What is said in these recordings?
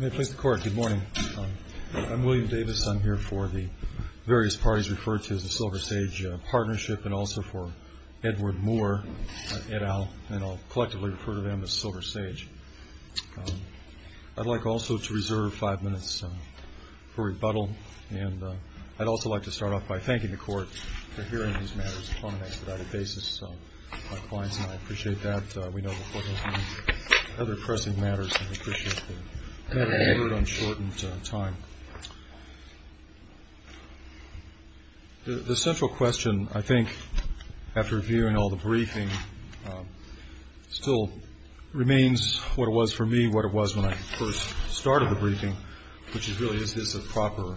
Good morning. I'm William Davis. I'm here for the various parties referred to as the Silver Sage Partnership and also for Edward Moore et al. And I'll collectively refer to them as Silver Sage. I'd like also to reserve five minutes for rebuttal. And I'd also like to start off by thanking the Court for hearing these matters on an expedited basis. So my clients and I appreciate that. We know the Court has many other pressing matters, and we appreciate the matter being heard on shortened time. The central question, I think, after reviewing all the briefing, still remains what it was for me, what it was when I first started the briefing, which is really, is this a proper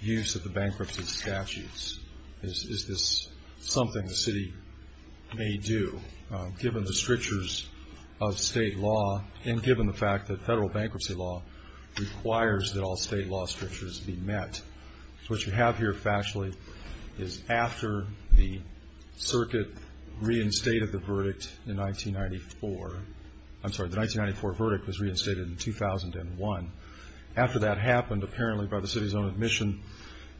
use of the bankruptcy statutes? Is this something the city may do, given the strictures of state law and given the fact that federal bankruptcy law requires that all state law strictures be met? What you have here, factually, is after the circuit reinstated the verdict in 1994. I'm sorry, the 1994 verdict was reinstated in 2001. After that happened, apparently by the city's own admission,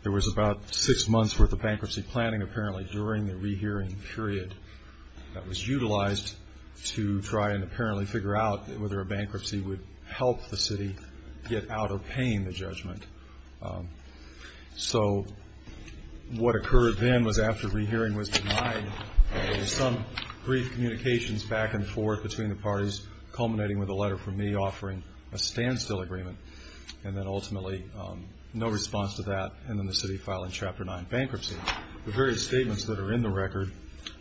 there was about six months' worth of bankruptcy planning, apparently, during the rehearing period that was utilized to try and apparently figure out whether a bankruptcy would help the city get out of paying the judgment. So what occurred then was, after rehearing was denied, some brief communications back and forth between the parties, culminating with a letter from me offering a standstill agreement, and then ultimately no response to that, and then the city filing Chapter 9 bankruptcy. The various statements that are in the record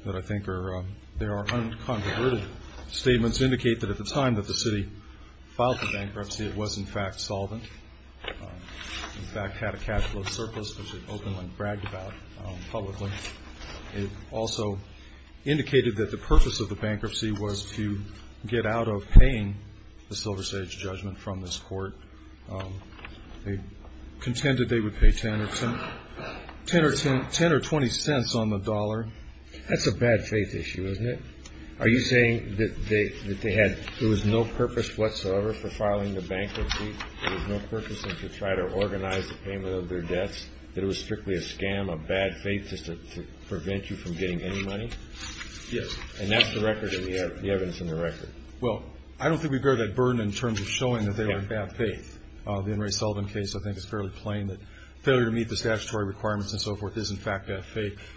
that I think are, are unconverted statements indicate that at the time that the city filed the bankruptcy, it was, in fact, solvent. It, in fact, had a capital surplus, which it openly bragged about publicly. It also indicated that the purpose of the bankruptcy was to get out of paying the Silver Sage judgment from this court. They contended they would pay 10 or 20 cents on the dollar. That's a bad faith issue, isn't it? Are you saying that they, that they had, there was no purpose whatsoever for filing the bankruptcy? There was no purpose in trying to organize the payment of their debts? That it was strictly a scam, a bad faith just to prevent you from getting any money? Yes. And that's the record, the evidence in the record. Well, I don't think we bear that burden in terms of showing that they were in bad faith. The Henry Sullivan case, I think, is fairly plain that failure to meet the statutory requirements and so forth is, in fact, a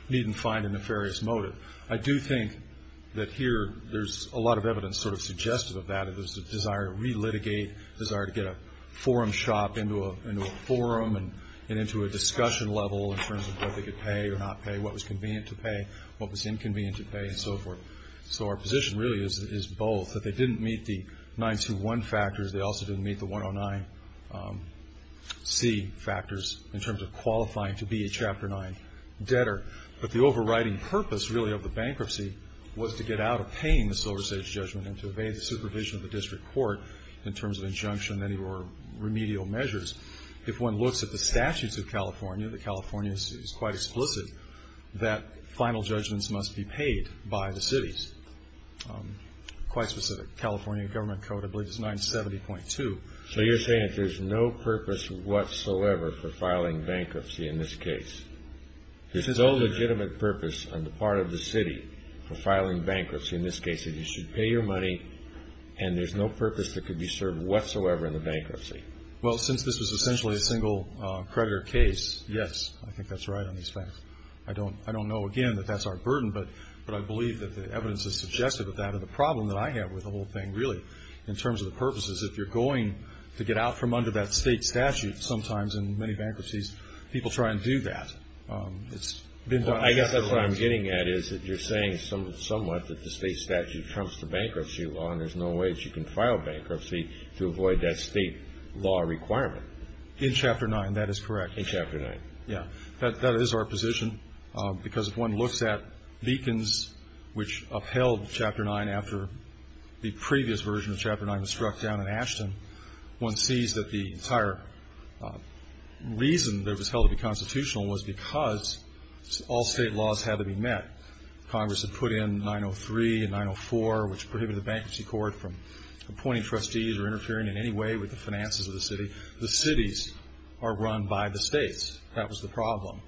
need and find a nefarious motive. I do think that here there's a lot of evidence sort of suggestive of that. There's a desire to relitigate, a desire to get a forum shop into a forum and into a discussion level in terms of whether they could pay or not pay, what was convenient to pay, what was inconvenient to pay, and so forth. So our position really is both, that they didn't meet the 921 factors. They also didn't meet the 109C factors in terms of qualifying to be a Chapter 9 debtor. But the overriding purpose, really, of the bankruptcy was to get out of paying the Silver State's judgment and to obey the supervision of the district court in terms of injunction or remedial measures. If one looks at the statutes of California, the California is quite explicit that final judgments must be paid by the cities. Quite specific. California government code, I believe, is 970.2. So you're saying that there's no purpose whatsoever for filing bankruptcy in this case. There's no legitimate purpose on the part of the city for filing bankruptcy in this case. You should pay your money, and there's no purpose that could be served whatsoever in the bankruptcy. Well, since this was essentially a single creditor case, yes, I think that's right on these facts. I don't know, again, that that's our burden, but I believe that the evidence has suggested that that is the problem that I have with the whole thing, really, in terms of the purposes. If you're going to get out from under that state statute sometimes in many bankruptcies, people try and do that. I guess that's what I'm getting at is that you're saying somewhat that the state statute trumps the bankruptcy law and there's no way that you can file bankruptcy to avoid that state law requirement. In Chapter 9, that is correct. In Chapter 9. Yeah. That is our position, because if one looks at Beacons, which upheld Chapter 9 after the previous version of Chapter 9 was struck down in Ashton, one sees that the entire reason that it was held to be constitutional was because all state laws had to be met. Congress had put in 903 and 904, which prohibited the Bankruptcy Court from appointing trustees or interfering in any way with the finances of the city. The cities are run by the states. That was the problem.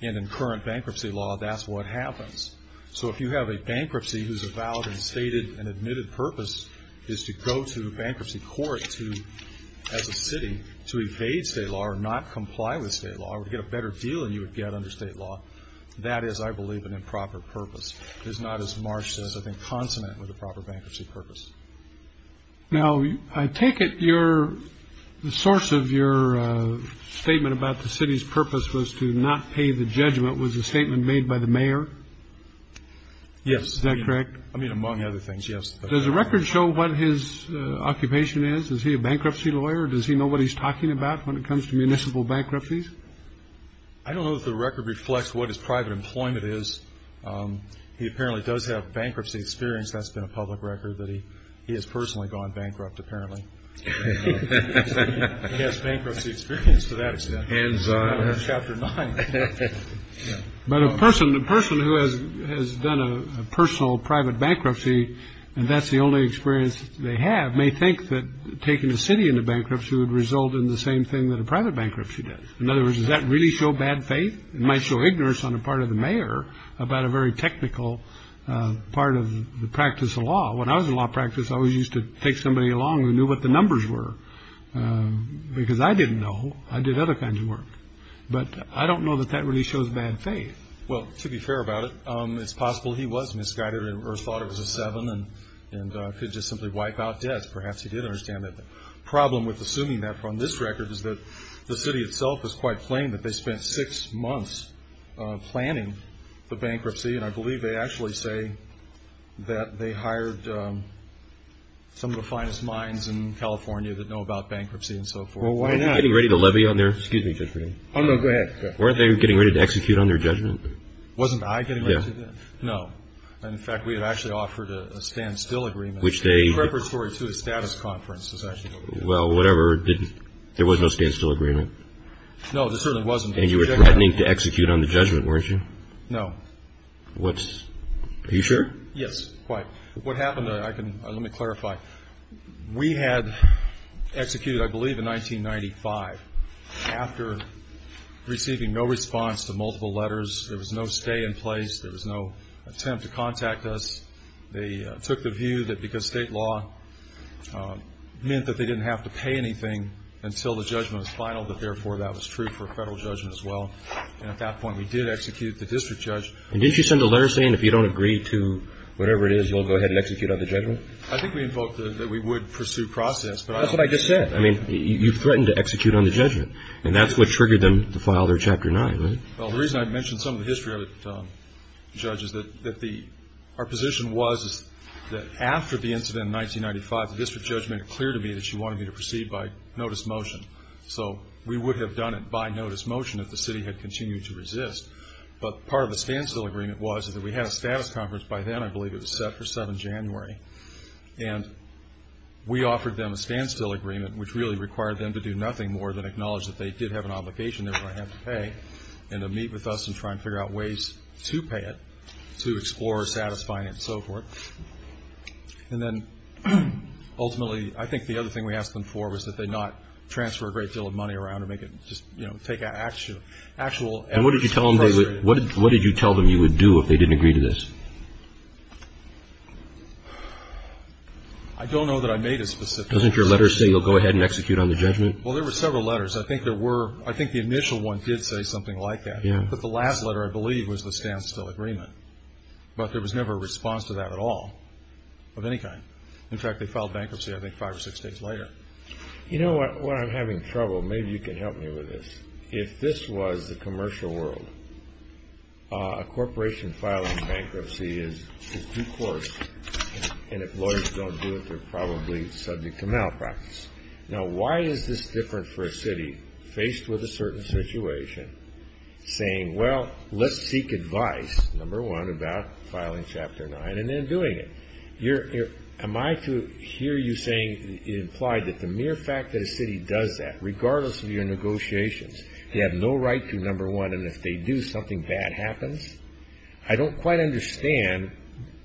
And in current bankruptcy law, that's what happens. So if you have a bankruptcy whose avowed and stated and admitted purpose is to go to a bankruptcy court as a city to evade state law or not comply with state law or to get a better deal than you would get under state law, that is, I believe, an improper purpose. It is not, as Marsh says, I think, consonant with a proper bankruptcy purpose. Now, I take it you're the source of your statement about the city's purpose was to not pay the judgment was a statement made by the mayor. Yes. That's correct. I mean, among other things. Yes. Does the record show what his occupation is? Is he a bankruptcy lawyer? Does he know what he's talking about when it comes to municipal bankruptcies? I don't know if the record reflects what his private employment is. He apparently does have bankruptcy experience. That's been a public record that he he has personally gone bankrupt, apparently. Yes. Bankruptcy experience to that chapter. But a person, the person who has done a personal private bankruptcy, and that's the only experience they have may think that taking the city into bankruptcy would result in the same thing that a private bankruptcy. In other words, does that really show bad faith? It might show ignorance on the part of the mayor about a very technical part of the practice of law. When I was in law practice, I always used to take somebody along who knew what the numbers were because I didn't know. I did other kinds of work, but I don't know that that really shows bad faith. Well, to be fair about it, it's possible he was misguided or thought it was a seven and could just simply wipe out debt. Perhaps he did understand that the problem with assuming that from this record is that the city itself is quite plain that they spent six months planning the bankruptcy. And I believe they actually say that they hired some of the finest minds in California that know about bankruptcy and so forth. Well, why not? Getting ready to levy on there? Excuse me. Oh, no, go ahead. Weren't they getting ready to execute on their judgment? Wasn't I getting ready to do that? No. In fact, we had actually offered a standstill agreement. Preparatory to a status conference is actually what we did. Well, whatever. There was no standstill agreement. No, there certainly wasn't. And you were threatening to execute on the judgment, weren't you? No. Are you sure? Yes, quite. What happened, let me clarify. We had executed, I believe, in 1995. After receiving no response to multiple letters, there was no stay in place, there was no attempt to contact us. They took the view that because state law meant that they didn't have to pay anything until the judgment was final, that therefore that was true for federal judgment as well. And at that point we did execute the district judge. And didn't you send a letter saying if you don't agree to whatever it is, we'll go ahead and execute on the judgment? I think we invoked that we would pursue process. That's what I just said. I mean, you threatened to execute on the judgment. And that's what triggered them to file their Chapter 9, right? Well, the reason I mentioned some of the history of it, Judge, is that our position was that after the incident in 1995, the district judge made it clear to me that she wanted me to proceed by notice motion. So we would have done it by notice motion if the city had continued to resist. But part of the standstill agreement was that we had a status conference by then. I believe it was set for 7 January. And we offered them a standstill agreement, which really required them to do nothing more than acknowledge that they did have an obligation, they were going to have to pay, and to meet with us and try and figure out ways to pay it, to explore satisfying it and so forth. And then ultimately, I think the other thing we asked them for was that they not transfer a great deal of money around or make it just, you know, take actual evidence. And what did you tell them you would do if they didn't agree to this? I don't know that I made a specific request. Doesn't your letter say you'll go ahead and execute on the judgment? Well, there were several letters. I think there were – I think the initial one did say something like that. But the last letter, I believe, was the standstill agreement. But there was never a response to that at all of any kind. In fact, they filed bankruptcy, I think, five or six days later. You know what? When I'm having trouble, maybe you can help me with this. If this was the commercial world, a corporation filing bankruptcy is due course, and if lawyers don't do it, they're probably subject to malpractice. Now, why is this different for a city faced with a certain situation saying, well, let's seek advice, number one, about filing Chapter 9 and then doing it? Am I to hear you saying it implied that the mere fact that a city does that, regardless of your negotiations, they have no right to, number one, and if they do, something bad happens? I don't quite understand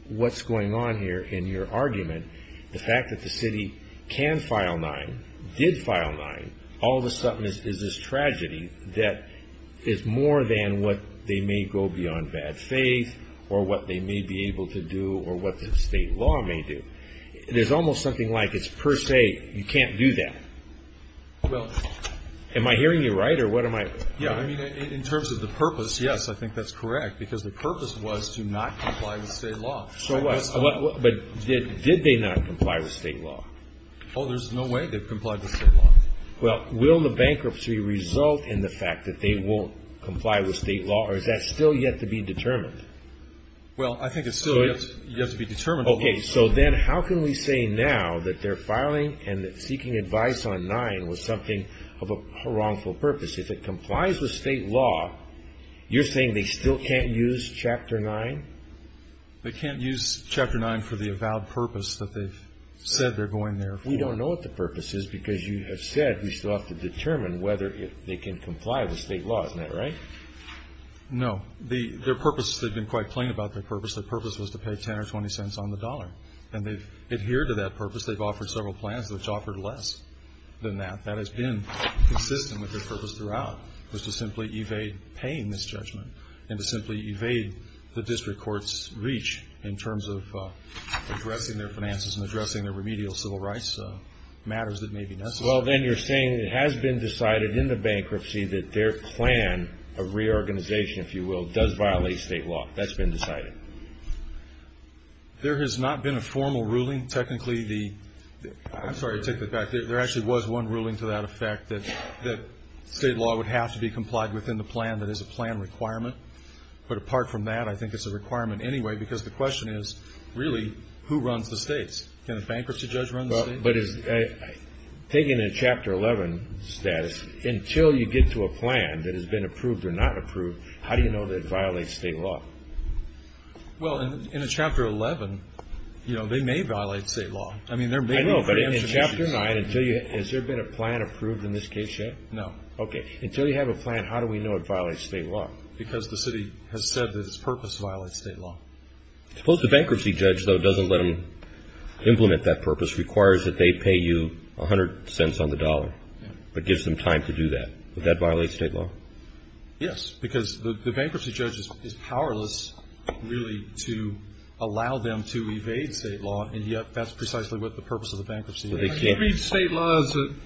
what's going on here in your argument, the fact that the city can file 9, did file 9, all of a sudden is this tragedy that is more than what they may go beyond bad faith or what they may be able to do or what the state law may do. There's almost something like it's per se, you can't do that. Am I hearing you right? Yeah, I mean, in terms of the purpose, yes, I think that's correct, because the purpose was to not comply with state law. But did they not comply with state law? Oh, there's no way they've complied with state law. Well, will the bankruptcy result in the fact that they won't comply with state law or is that still yet to be determined? Well, I think it's still yet to be determined. Okay, so then how can we say now that their filing and seeking advice on 9 was something of a wrongful purpose? If it complies with state law, you're saying they still can't use Chapter 9? They can't use Chapter 9 for the avowed purpose that they've said they're going there for. We don't know what the purpose is because you have said we still have to determine whether they can comply with state law. Isn't that right? No. Their purpose, they've been quite plain about their purpose. Their purpose was to pay $0.10 or $0.20 on the dollar, and they've adhered to that purpose. They've offered several plans which offered less than that. That has been consistent with their purpose throughout, was to simply evade paying this judgment and to simply evade the district court's reach in terms of addressing their finances and addressing their remedial civil rights matters that may be necessary. Well, then you're saying it has been decided in the bankruptcy that their plan of reorganization, if you will, does violate state law. That's been decided. There has not been a formal ruling. Technically, the – I'm sorry to take that back. There actually was one ruling to that effect, that state law would have to be complied within the plan that is a plan requirement. But apart from that, I think it's a requirement anyway because the question is, really, who runs the states? Can a bankruptcy judge run the states? But is – taking a Chapter 11 status, until you get to a plan that has been approved or not approved, how do you know that it violates state law? Well, in a Chapter 11, you know, they may violate state law. I know, but in Chapter 9, has there been a plan approved in this case yet? No. Okay. Until you have a plan, how do we know it violates state law? Because the city has said that its purpose violates state law. Suppose the bankruptcy judge, though it doesn't let them implement that purpose, requires that they pay you 100 cents on the dollar, but gives them time to do that. Would that violate state law? Yes, because the bankruptcy judge is powerless, really, to allow them to evade state law, and yet that's precisely what the purpose of the bankruptcy is. They can't read state laws that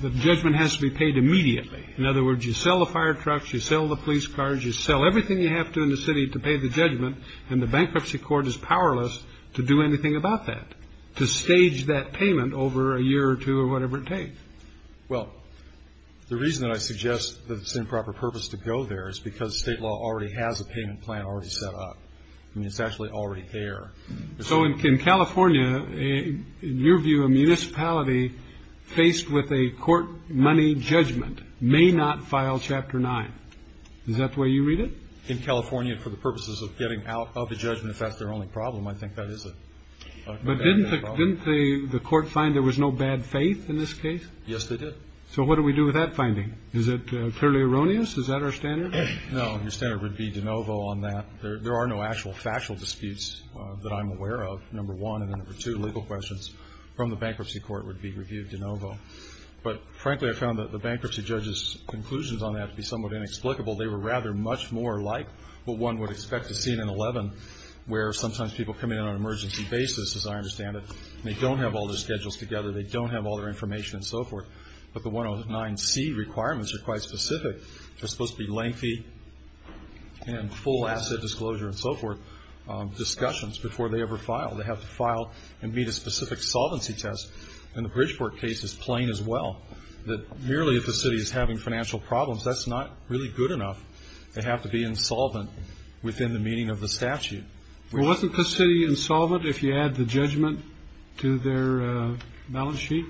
the judgment has to be paid immediately. In other words, you sell the fire trucks, you sell the police cars, you sell everything you have to in the city to pay the judgment, and the bankruptcy court is powerless to do anything about that, to stage that payment over a year or two or whatever it takes. Well, the reason that I suggest that it's an improper purpose to go there is because state law already has a payment plan already set up. I mean, it's actually already there. So in California, in your view, a municipality faced with a court money judgment may not file Chapter 9. Is that the way you read it? In California, for the purposes of getting out of the judgment, if that's their only problem, I think that is a very big problem. But didn't the court find there was no bad faith in this case? Yes, they did. So what do we do with that finding? Is it clearly erroneous? Is that our standard? No, your standard would be de novo on that. There are no actual factual disputes that I'm aware of. Number one and number two, legal questions from the bankruptcy court would be reviewed de novo. But, frankly, I found that the bankruptcy judge's conclusions on that to be somewhat inexplicable. They were rather much more like what one would expect to see in an 11, where sometimes people come in on an emergency basis, as I understand it, and they don't have all their schedules together. They don't have all their information and so forth. But the 109C requirements are quite specific. They're supposed to be lengthy and full asset disclosure and so forth discussions before they ever file. They have to file and meet a specific solvency test. And the Bridgeport case is plain as well, that merely if the city is having financial problems, that's not really good enough. They have to be insolvent within the meaning of the statute. Well, wasn't the city insolvent if you add the judgment to their balance sheet?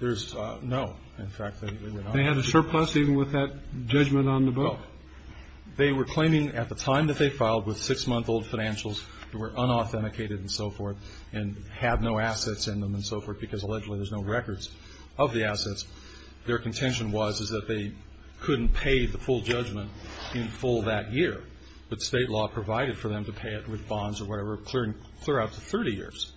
No, in fact, they were not. They had a surplus even with that judgment on the book? No. They were claiming at the time that they filed with six-month-old financials that were unauthenticated and so forth and had no assets in them and so forth because allegedly there's no records of the assets. Their contention was, is that they couldn't pay the full judgment in full that year, but State law provided for them to pay it with bonds or whatever, clear out to 30 years.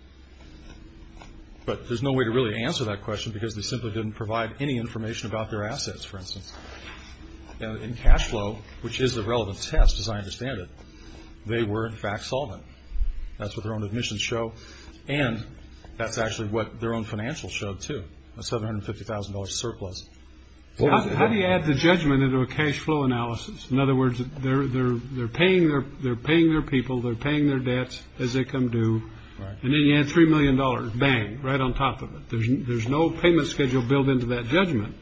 But there's no way to really answer that question because they simply didn't provide any information about their assets, for instance. In cash flow, which is the relevant test, as I understand it, they were, in fact, solvent. That's what their own admissions show, and that's actually what their own financials show too, a $750,000 surplus. How do you add the judgment into a cash flow analysis? In other words, they're paying their people, they're paying their debts as they come due, and then you add $3 million, bang, right on top of it. There's no payment schedule built into that judgment.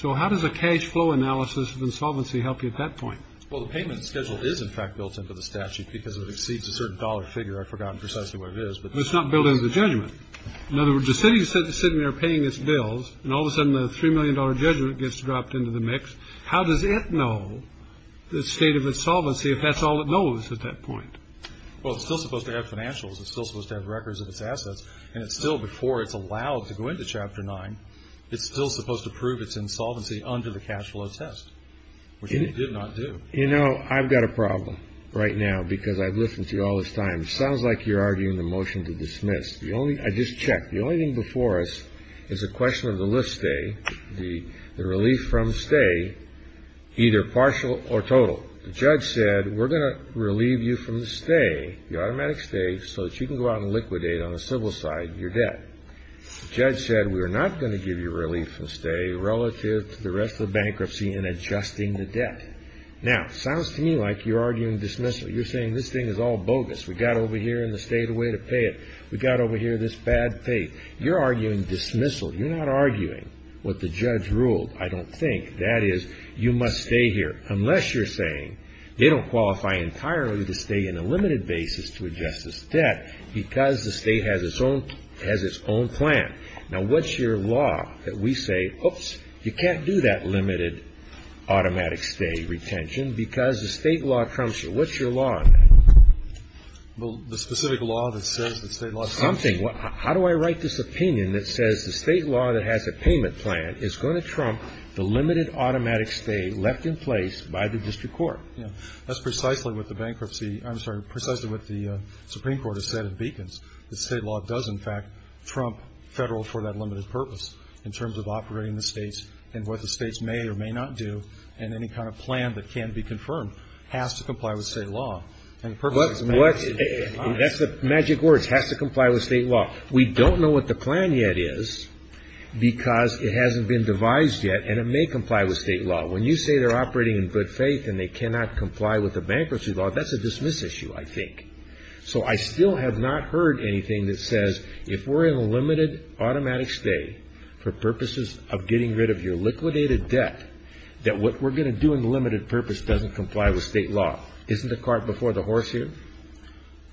So how does a cash flow analysis of insolvency help you at that point? Well, the payment schedule is, in fact, built into the statute because it exceeds a certain dollar figure. I've forgotten precisely what it is. But it's not built into the judgment. In other words, the city is sitting there paying its bills, and all of a sudden the $3 million judgment gets dropped into the mix. How does it know the state of insolvency if that's all it knows at that point? Well, it's still supposed to have financials, it's still supposed to have records of its assets, and it's still before it's allowed to go into Chapter 9. It's still supposed to prove its insolvency under the cash flow test, which it did not do. You know, I've got a problem right now because I've listened to you all this time. It sounds like you're arguing the motion to dismiss. I just checked. The only thing before us is a question of the lift stay, the relief from stay, either partial or total. The judge said we're going to relieve you from the stay, the automatic stay, so that you can go out and liquidate on the civil side your debt. The judge said we're not going to give you relief from stay relative to the rest of the bankruptcy in adjusting the debt. Now, it sounds to me like you're arguing dismissal. You're saying this thing is all bogus. We got over here in the state a way to pay it. We got over here this bad pay. You're arguing dismissal. You're not arguing what the judge ruled. I don't think. That is, you must stay here unless you're saying they don't qualify entirely to stay in a limited basis to adjust this debt because the state has its own plan. Now, what's your law that we say, oops, you can't do that limited automatic stay retention because the state law trumps it. What's your law on that? Well, the specific law that says the state law trumps it. Something. How do I write this opinion that says the state law that has a payment plan is going to trump the limited automatic stay left in place by the district court? That's precisely what the bankruptcy. I'm sorry, precisely what the Supreme Court has said at Beacons. The state law does, in fact, trump federal for that limited purpose in terms of operating the states and what the states may or may not do and any kind of plan that can be confirmed has to comply with state law. That's the magic words, has to comply with state law. We don't know what the plan yet is because it hasn't been devised yet, and it may comply with state law. When you say they're operating in good faith and they cannot comply with the bankruptcy law, that's a dismiss issue, I think. So I still have not heard anything that says if we're in a limited automatic stay for purposes of getting rid of your liquidated debt, that what we're going to do in the limited purpose doesn't comply with state law. Isn't the cart before the horse here?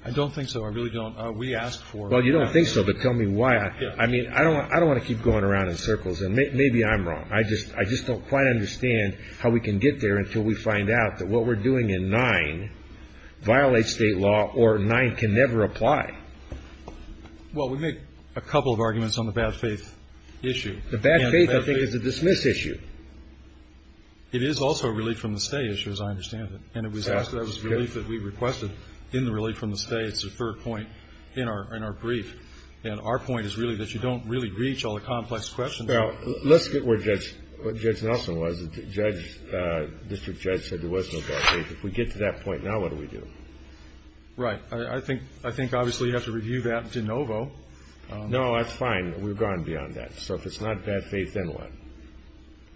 I don't think so. I really don't. We asked for it. Well, you don't think so, but tell me why. I mean, I don't want to keep going around in circles, and maybe I'm wrong. I just don't quite understand how we can get there until we find out that what we're doing in 9 violates state law or 9 can never apply. Well, we make a couple of arguments on the bad faith issue. The bad faith, I think, is a dismiss issue. It is also a relief from the stay issue, as I understand it. And it was asked that it was a relief that we requested in the relief from the stay. It's the third point in our brief. And our point is really that you don't really reach all the complex questions. Well, let's get where Judge Nelson was. The district judge said there was no bad faith. If we get to that point now, what do we do? Right. I think obviously you have to review that de novo. No, that's fine. We've gone beyond that. So if it's not bad faith, then what?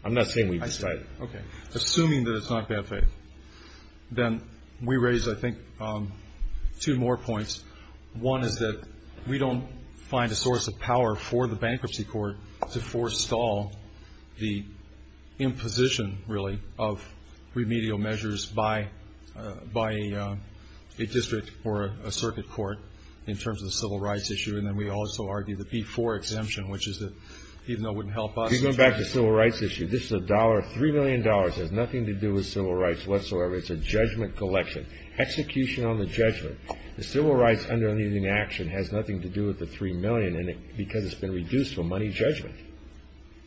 I'm not saying we've decided. Okay. Assuming that it's not bad faith, then we raise, I think, two more points. One is that we don't find a source of power for the bankruptcy court to forestall the imposition, really, of remedial measures by a district or a circuit court in terms of the civil rights issue. And then we also argue the B-4 exemption, which is that even though it wouldn't help us. You're going back to the civil rights issue. This is a dollar, $3 million. It has nothing to do with civil rights whatsoever. It's a judgment collection, execution on the judgment. The civil rights under the action has nothing to do with the $3 million because it's been reduced to a money judgment.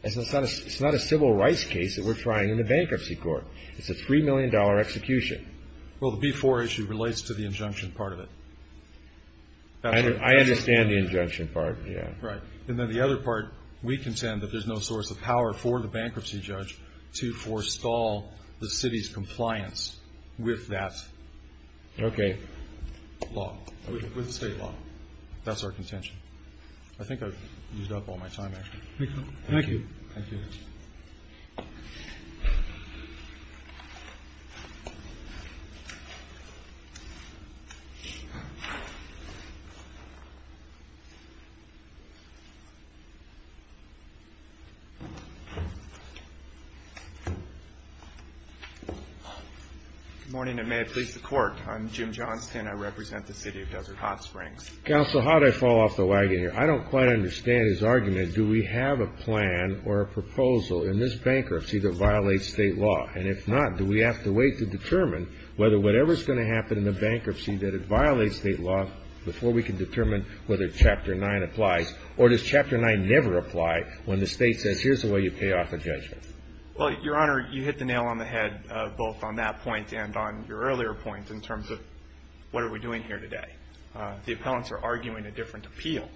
It's not a civil rights case that we're trying in the bankruptcy court. It's a $3 million execution. Well, the B-4 issue relates to the injunction part of it. I understand the injunction part, yeah. Right. And then the other part, we contend that there's no source of power for the bankruptcy judge to forestall the city's compliance with that. Okay. Law. With the State law. That's our contention. I think I've used up all my time, actually. Thank you. Thank you. Good morning, and may it please the Court. I'm Jim Johnston. I represent the City of Desert Hot Springs. Counsel, how did I fall off the wagon here? I don't quite understand his argument. Do we have a plan or a proposal in this bankruptcy that violates State law? And if not, do we have to wait to determine whether whatever's going to happen in the bankruptcy that it violates State law before we can determine whether Chapter 9 applies? Or does Chapter 9 never apply when the State says here's the way you pay off a judgment? Well, Your Honor, you hit the nail on the head both on that point and on your earlier point in terms of what are we doing here today. The appellants are arguing a different appeal.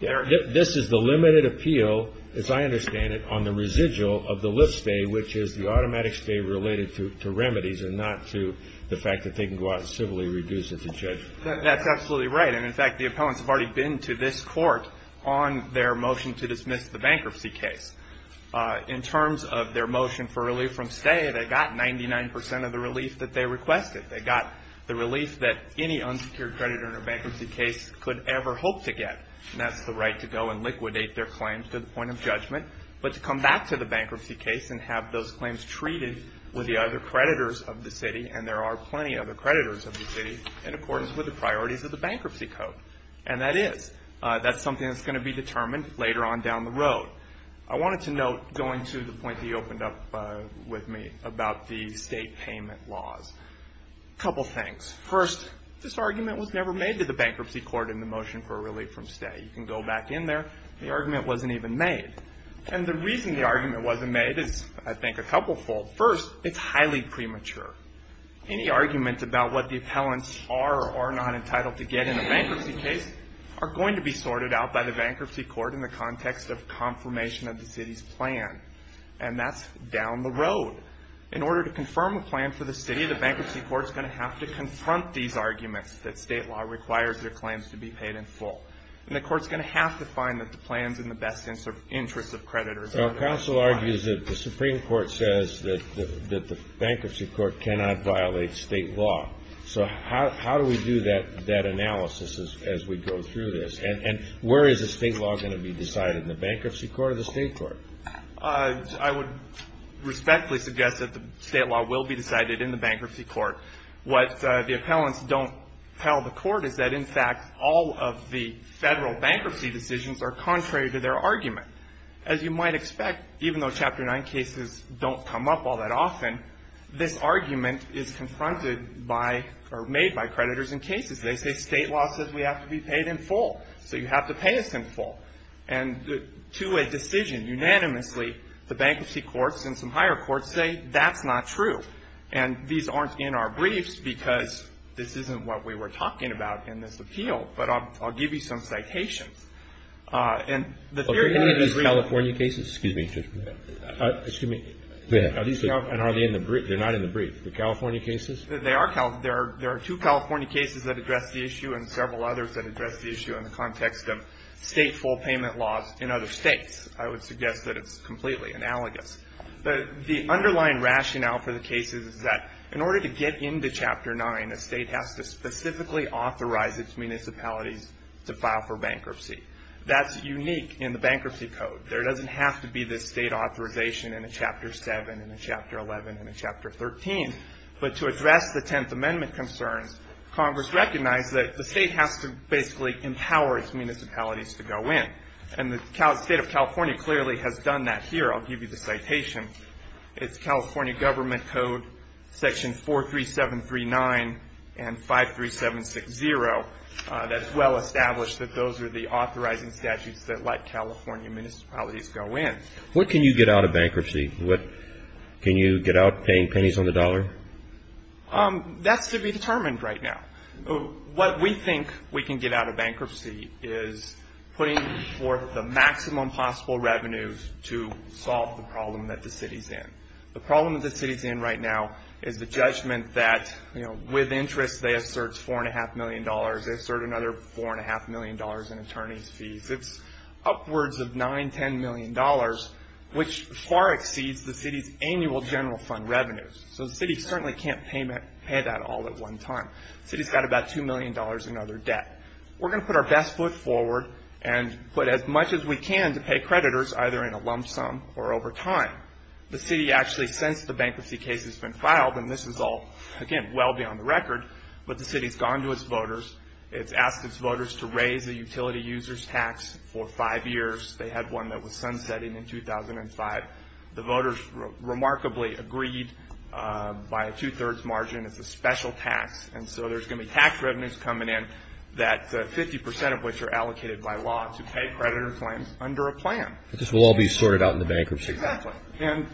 This is the limited appeal, as I understand it, on the residual of the lift stay, which is the automatic stay related to remedies and not to the fact that they can go out and civilly reduce it to judgment. That's absolutely right. And, in fact, the appellants have already been to this Court on their motion to dismiss the bankruptcy case. In terms of their motion for relief from stay, they got 99 percent of the relief that they requested. They got the relief that any unsecured creditor in a bankruptcy case could ever hope to get, and that's the right to go and liquidate their claims to the point of judgment, but to come back to the bankruptcy case and have those claims treated with the other creditors of the city, and there are plenty of other creditors of the city, in accordance with the priorities of the Bankruptcy Code. And that is something that's going to be determined later on down the road. I wanted to note, going to the point that you opened up with me about the state payment laws, a couple things. First, this argument was never made to the Bankruptcy Court in the motion for relief from stay. You can go back in there. The argument wasn't even made. And the reason the argument wasn't made is, I think, a couplefold. First, it's highly premature. Any argument about what the appellants are or are not entitled to get in a bankruptcy case are going to be sorted out by the Bankruptcy Court in the context of confirmation of the city's plan, and that's down the road. In order to confirm a plan for the city, the Bankruptcy Court's going to have to confront these arguments that state law requires their claims to be paid in full, and the court's going to have to find the plans in the best interest of creditors. Our counsel argues that the Supreme Court says that the Bankruptcy Court cannot violate state law. So how do we do that analysis as we go through this? And where is the state law going to be decided, in the Bankruptcy Court or the state court? I would respectfully suggest that the state law will be decided in the Bankruptcy Court. What the appellants don't tell the court is that, in fact, all of the federal bankruptcy decisions are contrary to their argument. As you might expect, even though Chapter 9 cases don't come up all that often, this argument is confronted by or made by creditors in cases. They say state law says we have to be paid in full, so you have to pay us in full. And to a decision unanimously, the Bankruptcy Courts and some higher courts say that's not true. And these aren't in our briefs because this isn't what we were talking about in this appeal, but I'll give you some citations. Excuse me. They're not in the brief. The California cases? There are two California cases that address the issue and several others that address the issue in the context of state full payment laws in other states. I would suggest that it's completely analogous. The underlying rationale for the cases is that in order to get into Chapter 9, a state has to specifically authorize its municipalities to file for bankruptcy. That's unique in the Bankruptcy Code. There doesn't have to be this state authorization in a Chapter 7, in a Chapter 11, in a Chapter 13. But to address the Tenth Amendment concerns, Congress recognized that the state has to basically empower its municipalities to go in. And the state of California clearly has done that here. I'll give you the citation. It's California Government Code Section 43739 and 53760. That's well established that those are the authorizing statutes that let California municipalities go in. What can you get out of bankruptcy? Can you get out paying pennies on the dollar? That's to be determined right now. What we think we can get out of bankruptcy is putting forth the maximum possible revenues to solve the problem that the city's in. The problem that the city's in right now is the judgment that, you know, with interest they assert $4.5 million. They assert another $4.5 million in attorney's fees. It's upwards of $9 million, $10 million, which far exceeds the city's annual general fund revenues. So the city certainly can't pay that all at one time. The city's got about $2 million in other debt. We're going to put our best foot forward and put as much as we can to pay creditors, either in a lump sum or over time. The city actually, since the bankruptcy case has been filed, and this is all, again, well beyond the record, but the city's gone to its voters. It's asked its voters to raise the utility users tax for five years. They had one that was sunsetting in 2005. The voters remarkably agreed by a two-thirds margin. It's a special tax, and so there's going to be tax revenues coming in, 50% of which are allocated by law to pay creditor claims under a plan. But this will all be sorted out in the bankruptcy case. Exactly. And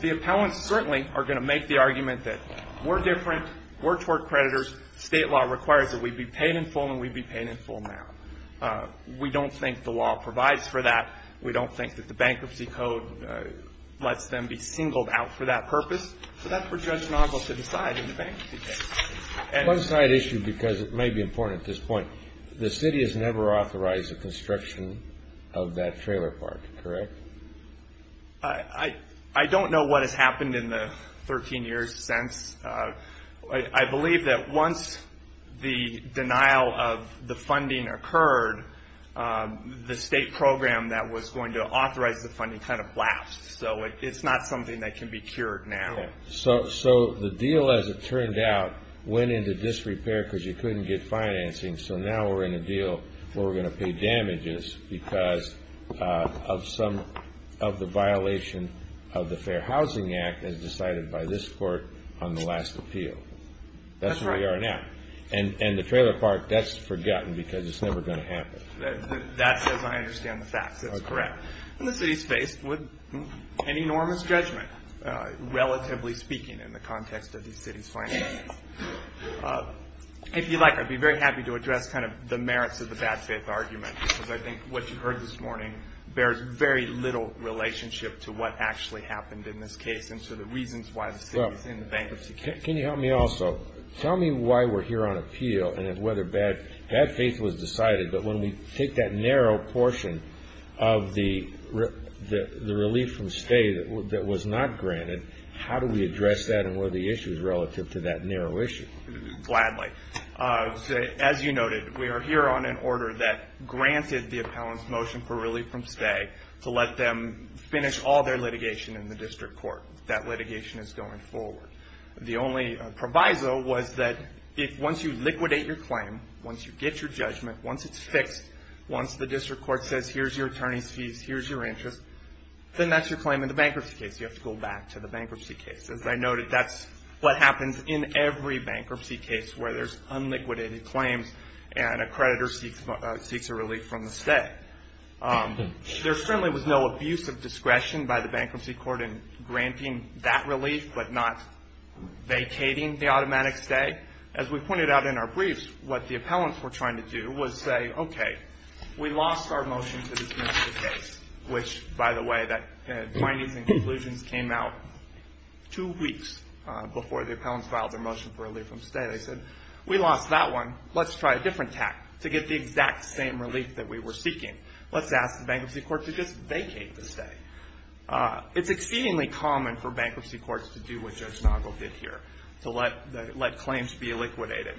the appellants certainly are going to make the argument that we're different, we're toward creditors. State law requires that we be paid in full, and we'd be paid in full now. We don't think the law provides for that. We don't think that the bankruptcy code lets them be singled out for that purpose. So that's for Judge Nozzol to decide in the bankruptcy case. One side issue, because it may be important at this point, the city has never authorized the construction of that trailer park, correct? I don't know what has happened in the 13 years since. I believe that once the denial of the funding occurred, the state program that was going to authorize the funding kind of blast, so it's not something that can be cured now. So the deal, as it turned out, went into disrepair because you couldn't get financing, so now we're in a deal where we're going to pay damages because of the violation of the Fair Housing Act as decided by this court on the last appeal. That's where we are now. And the trailer park, that's forgotten because it's never going to happen. That's as I understand the facts. That's correct. And the city's faced with an enormous judgment, relatively speaking, in the context of the city's finances. If you'd like, I'd be very happy to address kind of the merits of the bad faith argument because I think what you heard this morning bears very little relationship to what actually happened in this case and to the reasons why the city's in the bankruptcy case. Can you help me also? Tell me why we're here on appeal and whether bad faith was decided, but when we take that narrow portion of the relief from stay that was not granted, how do we address that and what are the issues relative to that narrow issue? Gladly. As you noted, we are here on an order that granted the appellant's motion for relief from stay to let them finish all their litigation in the district court. That litigation is going forward. The only proviso was that once you liquidate your claim, once you get your judgment, once it's fixed, once the district court says here's your attorney's fees, here's your interest, then that's your claim in the bankruptcy case. You have to go back to the bankruptcy case. As I noted, that's what happens in every bankruptcy case where there's unliquidated claims and a creditor seeks a relief from the stay. There certainly was no abuse of discretion by the bankruptcy court in granting that relief but not vacating the automatic stay. As we pointed out in our briefs, what the appellants were trying to do was say, okay, we lost our motion to dismiss the case, which, by the way, the findings and conclusions came out two weeks before the appellants filed their motion for relief from stay. They said, we lost that one. Let's try a different tack to get the exact same relief that we were seeking. Let's ask the bankruptcy court to just vacate the stay. It's exceedingly common for bankruptcy courts to do what Judge Nagle did here, to let claims be liquidated.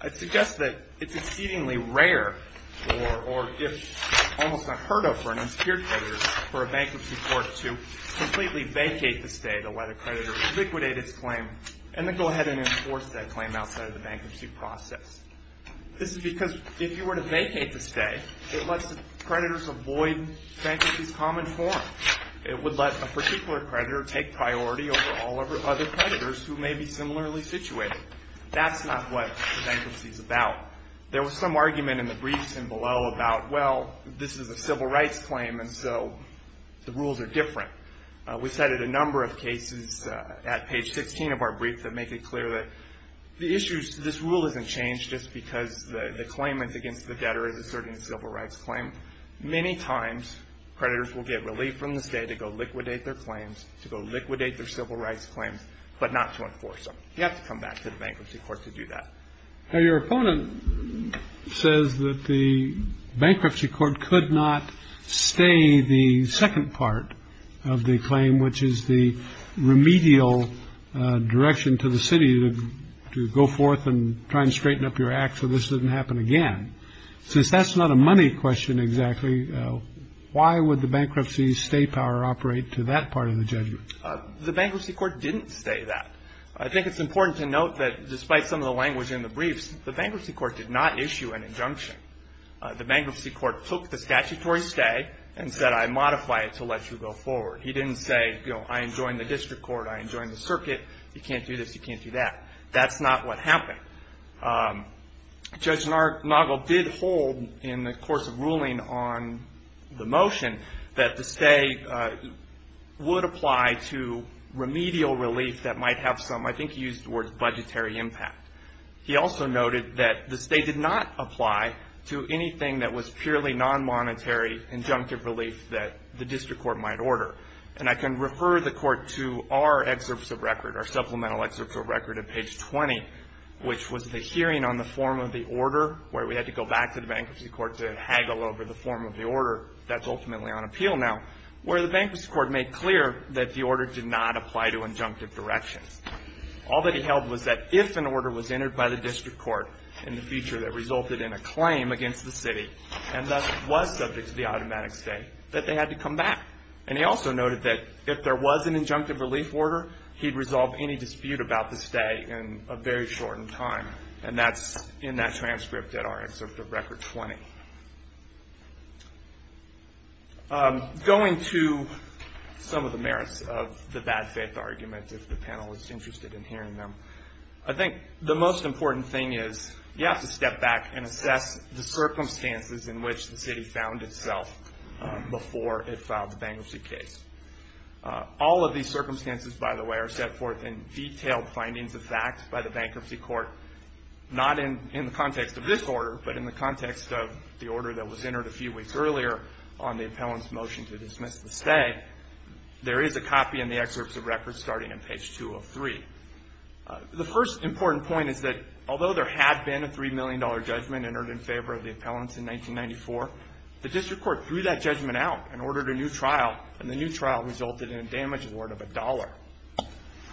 I'd suggest that it's exceedingly rare or if almost unheard of for an insecure creditor for a bankruptcy court to completely vacate the stay to let a creditor liquidate its claim and then go ahead and enforce that claim outside of the bankruptcy process. This is because if you were to vacate the stay, it lets the creditors avoid bankruptcy's common form. It would let a particular creditor take priority over all other creditors who may be similarly situated. That's not what the bankruptcy is about. There was some argument in the briefs and below about, well, this is a civil rights claim, and so the rules are different. We cited a number of cases at page 16 of our brief that make it clear that the issues, this rule hasn't changed just because the claimant's against the debtor is asserting a civil rights claim. Many times, creditors will get relief from the stay to go liquidate their claims, to go liquidate their civil rights claims, but not to enforce them. You have to come back to the bankruptcy court to do that. Now, your opponent says that the bankruptcy court could not stay the second part of the claim, which is the remedial direction to the city to go forth and try and straighten up your act so this doesn't happen again. Since that's not a money question exactly, why would the bankruptcy stay power operate to that part of the judgment? The bankruptcy court didn't stay that. I think it's important to note that despite some of the language in the briefs, the bankruptcy court did not issue an injunction. The bankruptcy court took the statutory stay and said, I modify it to let you go forward. He didn't say, you know, I enjoin the district court, I enjoin the circuit. You can't do this, you can't do that. That's not what happened. Judge Nagel did hold in the course of ruling on the motion that the stay would apply to remedial relief that might have some, I think he used the word, budgetary impact. He also noted that the stay did not apply to anything that was purely non-monetary injunctive relief that the district court might order. And I can refer the court to our excerpts of record, our supplemental excerpts of record at page 20, which was the hearing on the form of the order where we had to go back to the bankruptcy court to haggle over the form of the order that's ultimately on appeal now, where the bankruptcy court made clear that the order did not apply to injunctive directions. All that he held was that if an order was entered by the district court in the future that resulted in a claim against the city and thus was subject to the automatic stay, that they had to come back. And he also noted that if there was an injunctive relief order, he'd resolve any dispute about the stay in a very shortened time. And that's in that transcript at our excerpt of record 20. Going to some of the merits of the bad faith argument, if the panel is interested in hearing them, I think the most important thing is you have to step back and assess the circumstances in which the city found itself before it filed the bankruptcy case. All of these circumstances, by the way, are set forth in detailed findings of fact by the bankruptcy court, not in the context of this order, but in the context of the order that was entered a few weeks earlier on the appellant's motion to dismiss the stay. There is a copy in the excerpts of record starting on page 203. The first important point is that although there had been a $3 million judgment entered in favor of the appellants in 1994, the district court threw that judgment out and ordered a new trial, and the new trial resulted in a damage award of a dollar.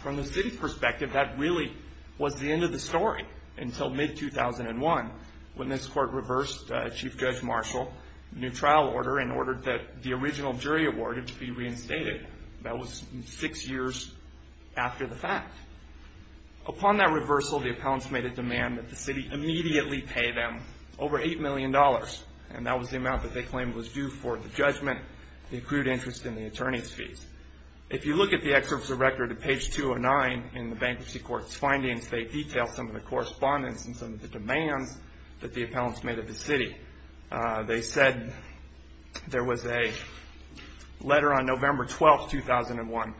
From the city's perspective, that really was the end of the story until mid-2001, when this court reversed Chief Judge Marshall's new trial order and ordered that the original jury awarded to be reinstated. That was six years after the fact. Upon that reversal, the appellants made a demand that the city immediately pay them over $8 million, and that was the amount that they claimed was due for the judgment, the accrued interest, and the attorney's fees. If you look at the excerpts of record at page 209 in the bankruptcy court's findings, they detail some of the correspondence and some of the demands that the appellants made of the city. They said there was a letter on November 12, 2001,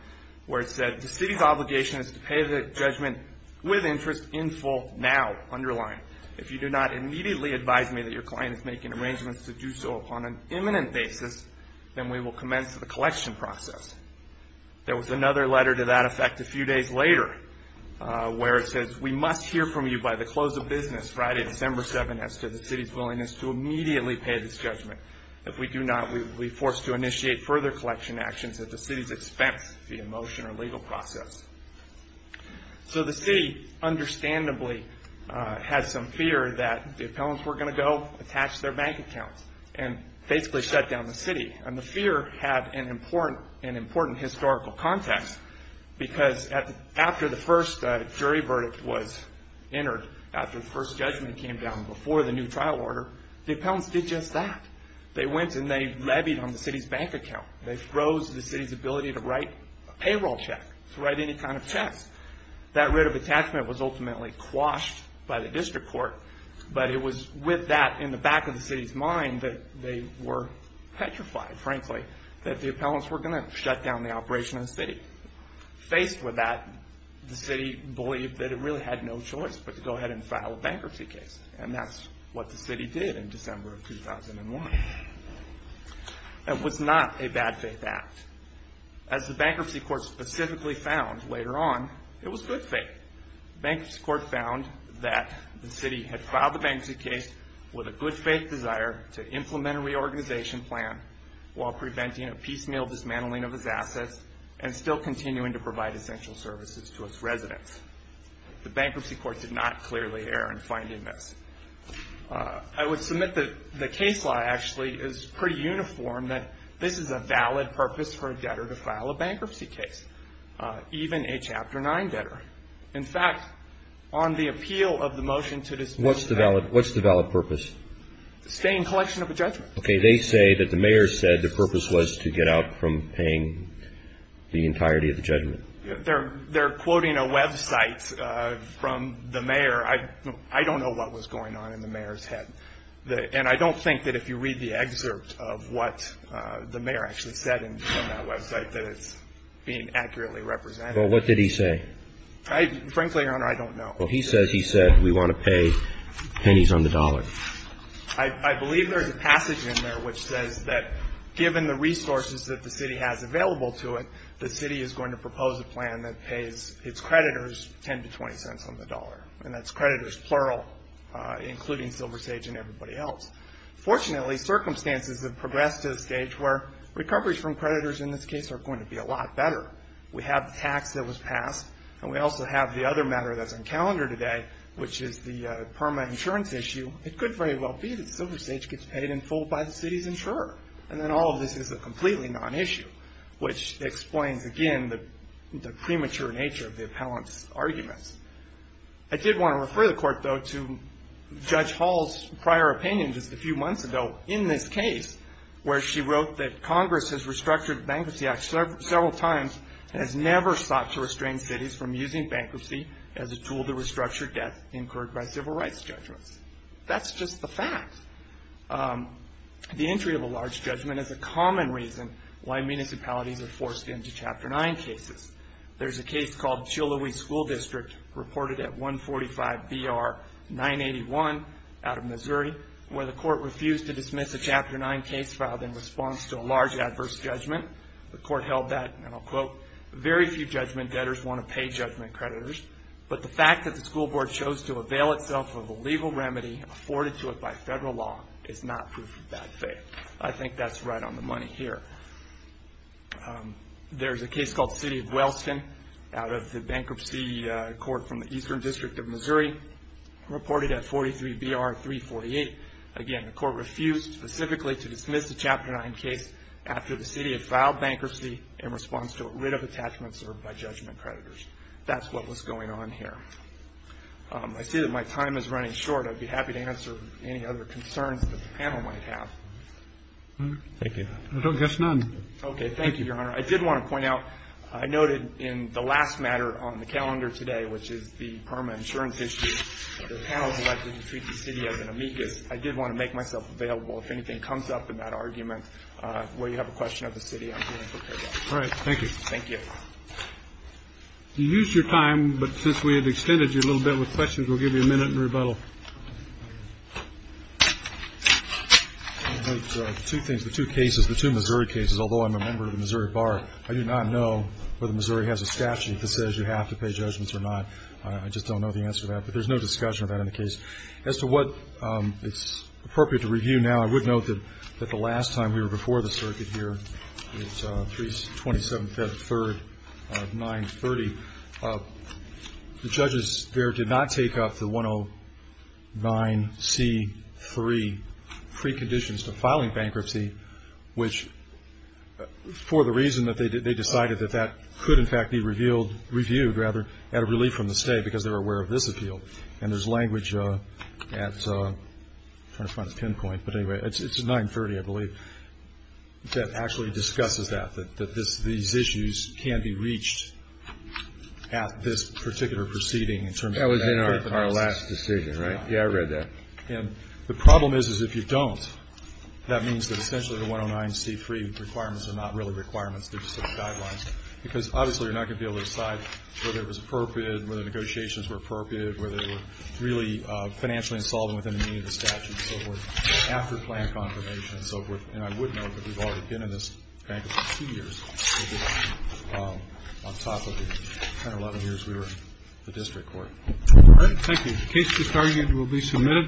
where it said, The city's obligation is to pay the judgment with interest in full now, underlying. If you do not immediately advise me that your client is making arrangements to do so upon an imminent basis, then we will commence the collection process. There was another letter to that effect a few days later, where it says, We must hear from you by the close of business Friday, December 7, as to the city's willingness to immediately pay this judgment. If we do not, we will be forced to initiate further collection actions at the city's expense via motion or legal process. So the city, understandably, had some fear that the appellants were going to go attach their bank accounts and basically shut down the city, and the fear had an important historical context, because after the first jury verdict was entered, after the first judgment came down before the new trial order, the appellants did just that. They went and they levied on the city's bank account. They froze the city's ability to write a payroll check, to write any kind of checks. That writ of attachment was ultimately quashed by the district court, but it was with that in the back of the city's mind that they were petrified, frankly, that the appellants were going to shut down the operation of the city. Faced with that, the city believed that it really had no choice but to go ahead and file a bankruptcy case, and that's what the city did in December of 2001. It was not a bad faith act. As the bankruptcy court specifically found later on, it was good faith. The bankruptcy court found that the city had filed the bankruptcy case with a good faith desire to implement a reorganization plan while preventing a piecemeal dismantling of its assets and still continuing to provide essential services to its residents. The bankruptcy court did not clearly err in finding this. I would submit that the case law actually is pretty uniform, that this is a valid purpose for a debtor to file a bankruptcy case, even a Chapter 9 debtor. In fact, on the appeal of the motion to dismantle the bank. What's the valid purpose? Stay in collection of a judgment. Okay, they say that the mayor said the purpose was to get out from paying the entirety of the judgment. They're quoting a website from the mayor. I don't know what was going on in the mayor's head, and I don't think that if you read the excerpt of what the mayor actually said on that website that it's being accurately represented. Well, what did he say? Frankly, Your Honor, I don't know. Well, he says he said we want to pay pennies on the dollar. I believe there's a passage in there which says that given the resources that the city has available to it, the city is going to propose a plan that pays its creditors $0.10 to $0.20 on the dollar, and that's creditors plural, including SilverSage and everybody else. Fortunately, circumstances have progressed to a stage where recoveries from creditors, in this case, are going to be a lot better. We have the tax that was passed, and we also have the other matter that's on calendar today, which is the PERMA insurance issue. It could very well be that SilverSage gets paid in full by the city's insurer, and then all of this is a completely non-issue, which explains, again, the premature nature of the appellant's arguments. I did want to refer the Court, though, to Judge Hall's prior opinion just a few months ago in this case, where she wrote that Congress has restructured the Bankruptcy Act several times and has never sought to restrain cities from using bankruptcy as a tool to restructure debt incurred by civil rights judgments. That's just the fact. The entry of a large judgment is a common reason why municipalities are forced into Chapter 9 cases. There's a case called Chihuly School District, reported at 145BR981 out of Missouri, where the Court refused to dismiss a Chapter 9 case filed in response to a large adverse judgment. The Court held that, and I'll quote, very few judgment debtors want to pay judgment creditors, but the fact that the school board chose to avail itself of a legal remedy afforded to it by federal law is not proof of bad faith. I think that's right on the money here. There's a case called City of Wellston out of the Bankruptcy Court from the Eastern District of Missouri, reported at 43BR348. Again, the Court refused specifically to dismiss the Chapter 9 case after the city had filed bankruptcy in response to a writ of attachment served by judgment creditors. That's what was going on here. I see that my time is running short. I'd be happy to answer any other concerns that the panel might have. Thank you. I don't guess none. Okay. Thank you, Your Honor. I did want to point out, I noted in the last matter on the calendar today, which is the permanent insurance issue, the panel selected to treat the city as an amicus. I did want to make myself available if anything comes up in that argument. If you have a question of the city, I'm here to prepare that. All right. Thank you. Thank you. You used your time, but since we had extended you a little bit with questions, we'll give you a minute in rebuttal. Two things, the two cases, the two Missouri cases, although I'm a member of the Missouri Bar, I do not know whether Missouri has a statute that says you have to pay judgments or not. I just don't know the answer to that, but there's no discussion of that in the case. As to what is appropriate to review now, I would note that the last time we were before the circuit here was 27th, 3rd, 930. The judges there did not take up the 109C3 preconditions to filing bankruptcy, which for the reason that they decided that that could, in fact, be reviewed, rather, at a relief from the state because they were aware of this appeal. And there's language at, I'm trying to find a pinpoint, but anyway, it's 930, I believe, that actually discusses that, that these issues can be reached at this particular proceeding. That was in our last decision, right? Yeah, I read that. And the problem is, is if you don't, that means that essentially the 109C3 requirements are not really requirements. They're just guidelines because obviously you're not going to be able to decide whether it was appropriate and whether the negotiations were appropriate, whether they were really financially insolvent within the meaning of the statute, and so forth, after plan confirmation, and so forth. And I would note that we've already been in this bankruptcy for two years, which is on top of the 10 or 11 years we were in the district court. All right, thank you. The case to be started will be submitted.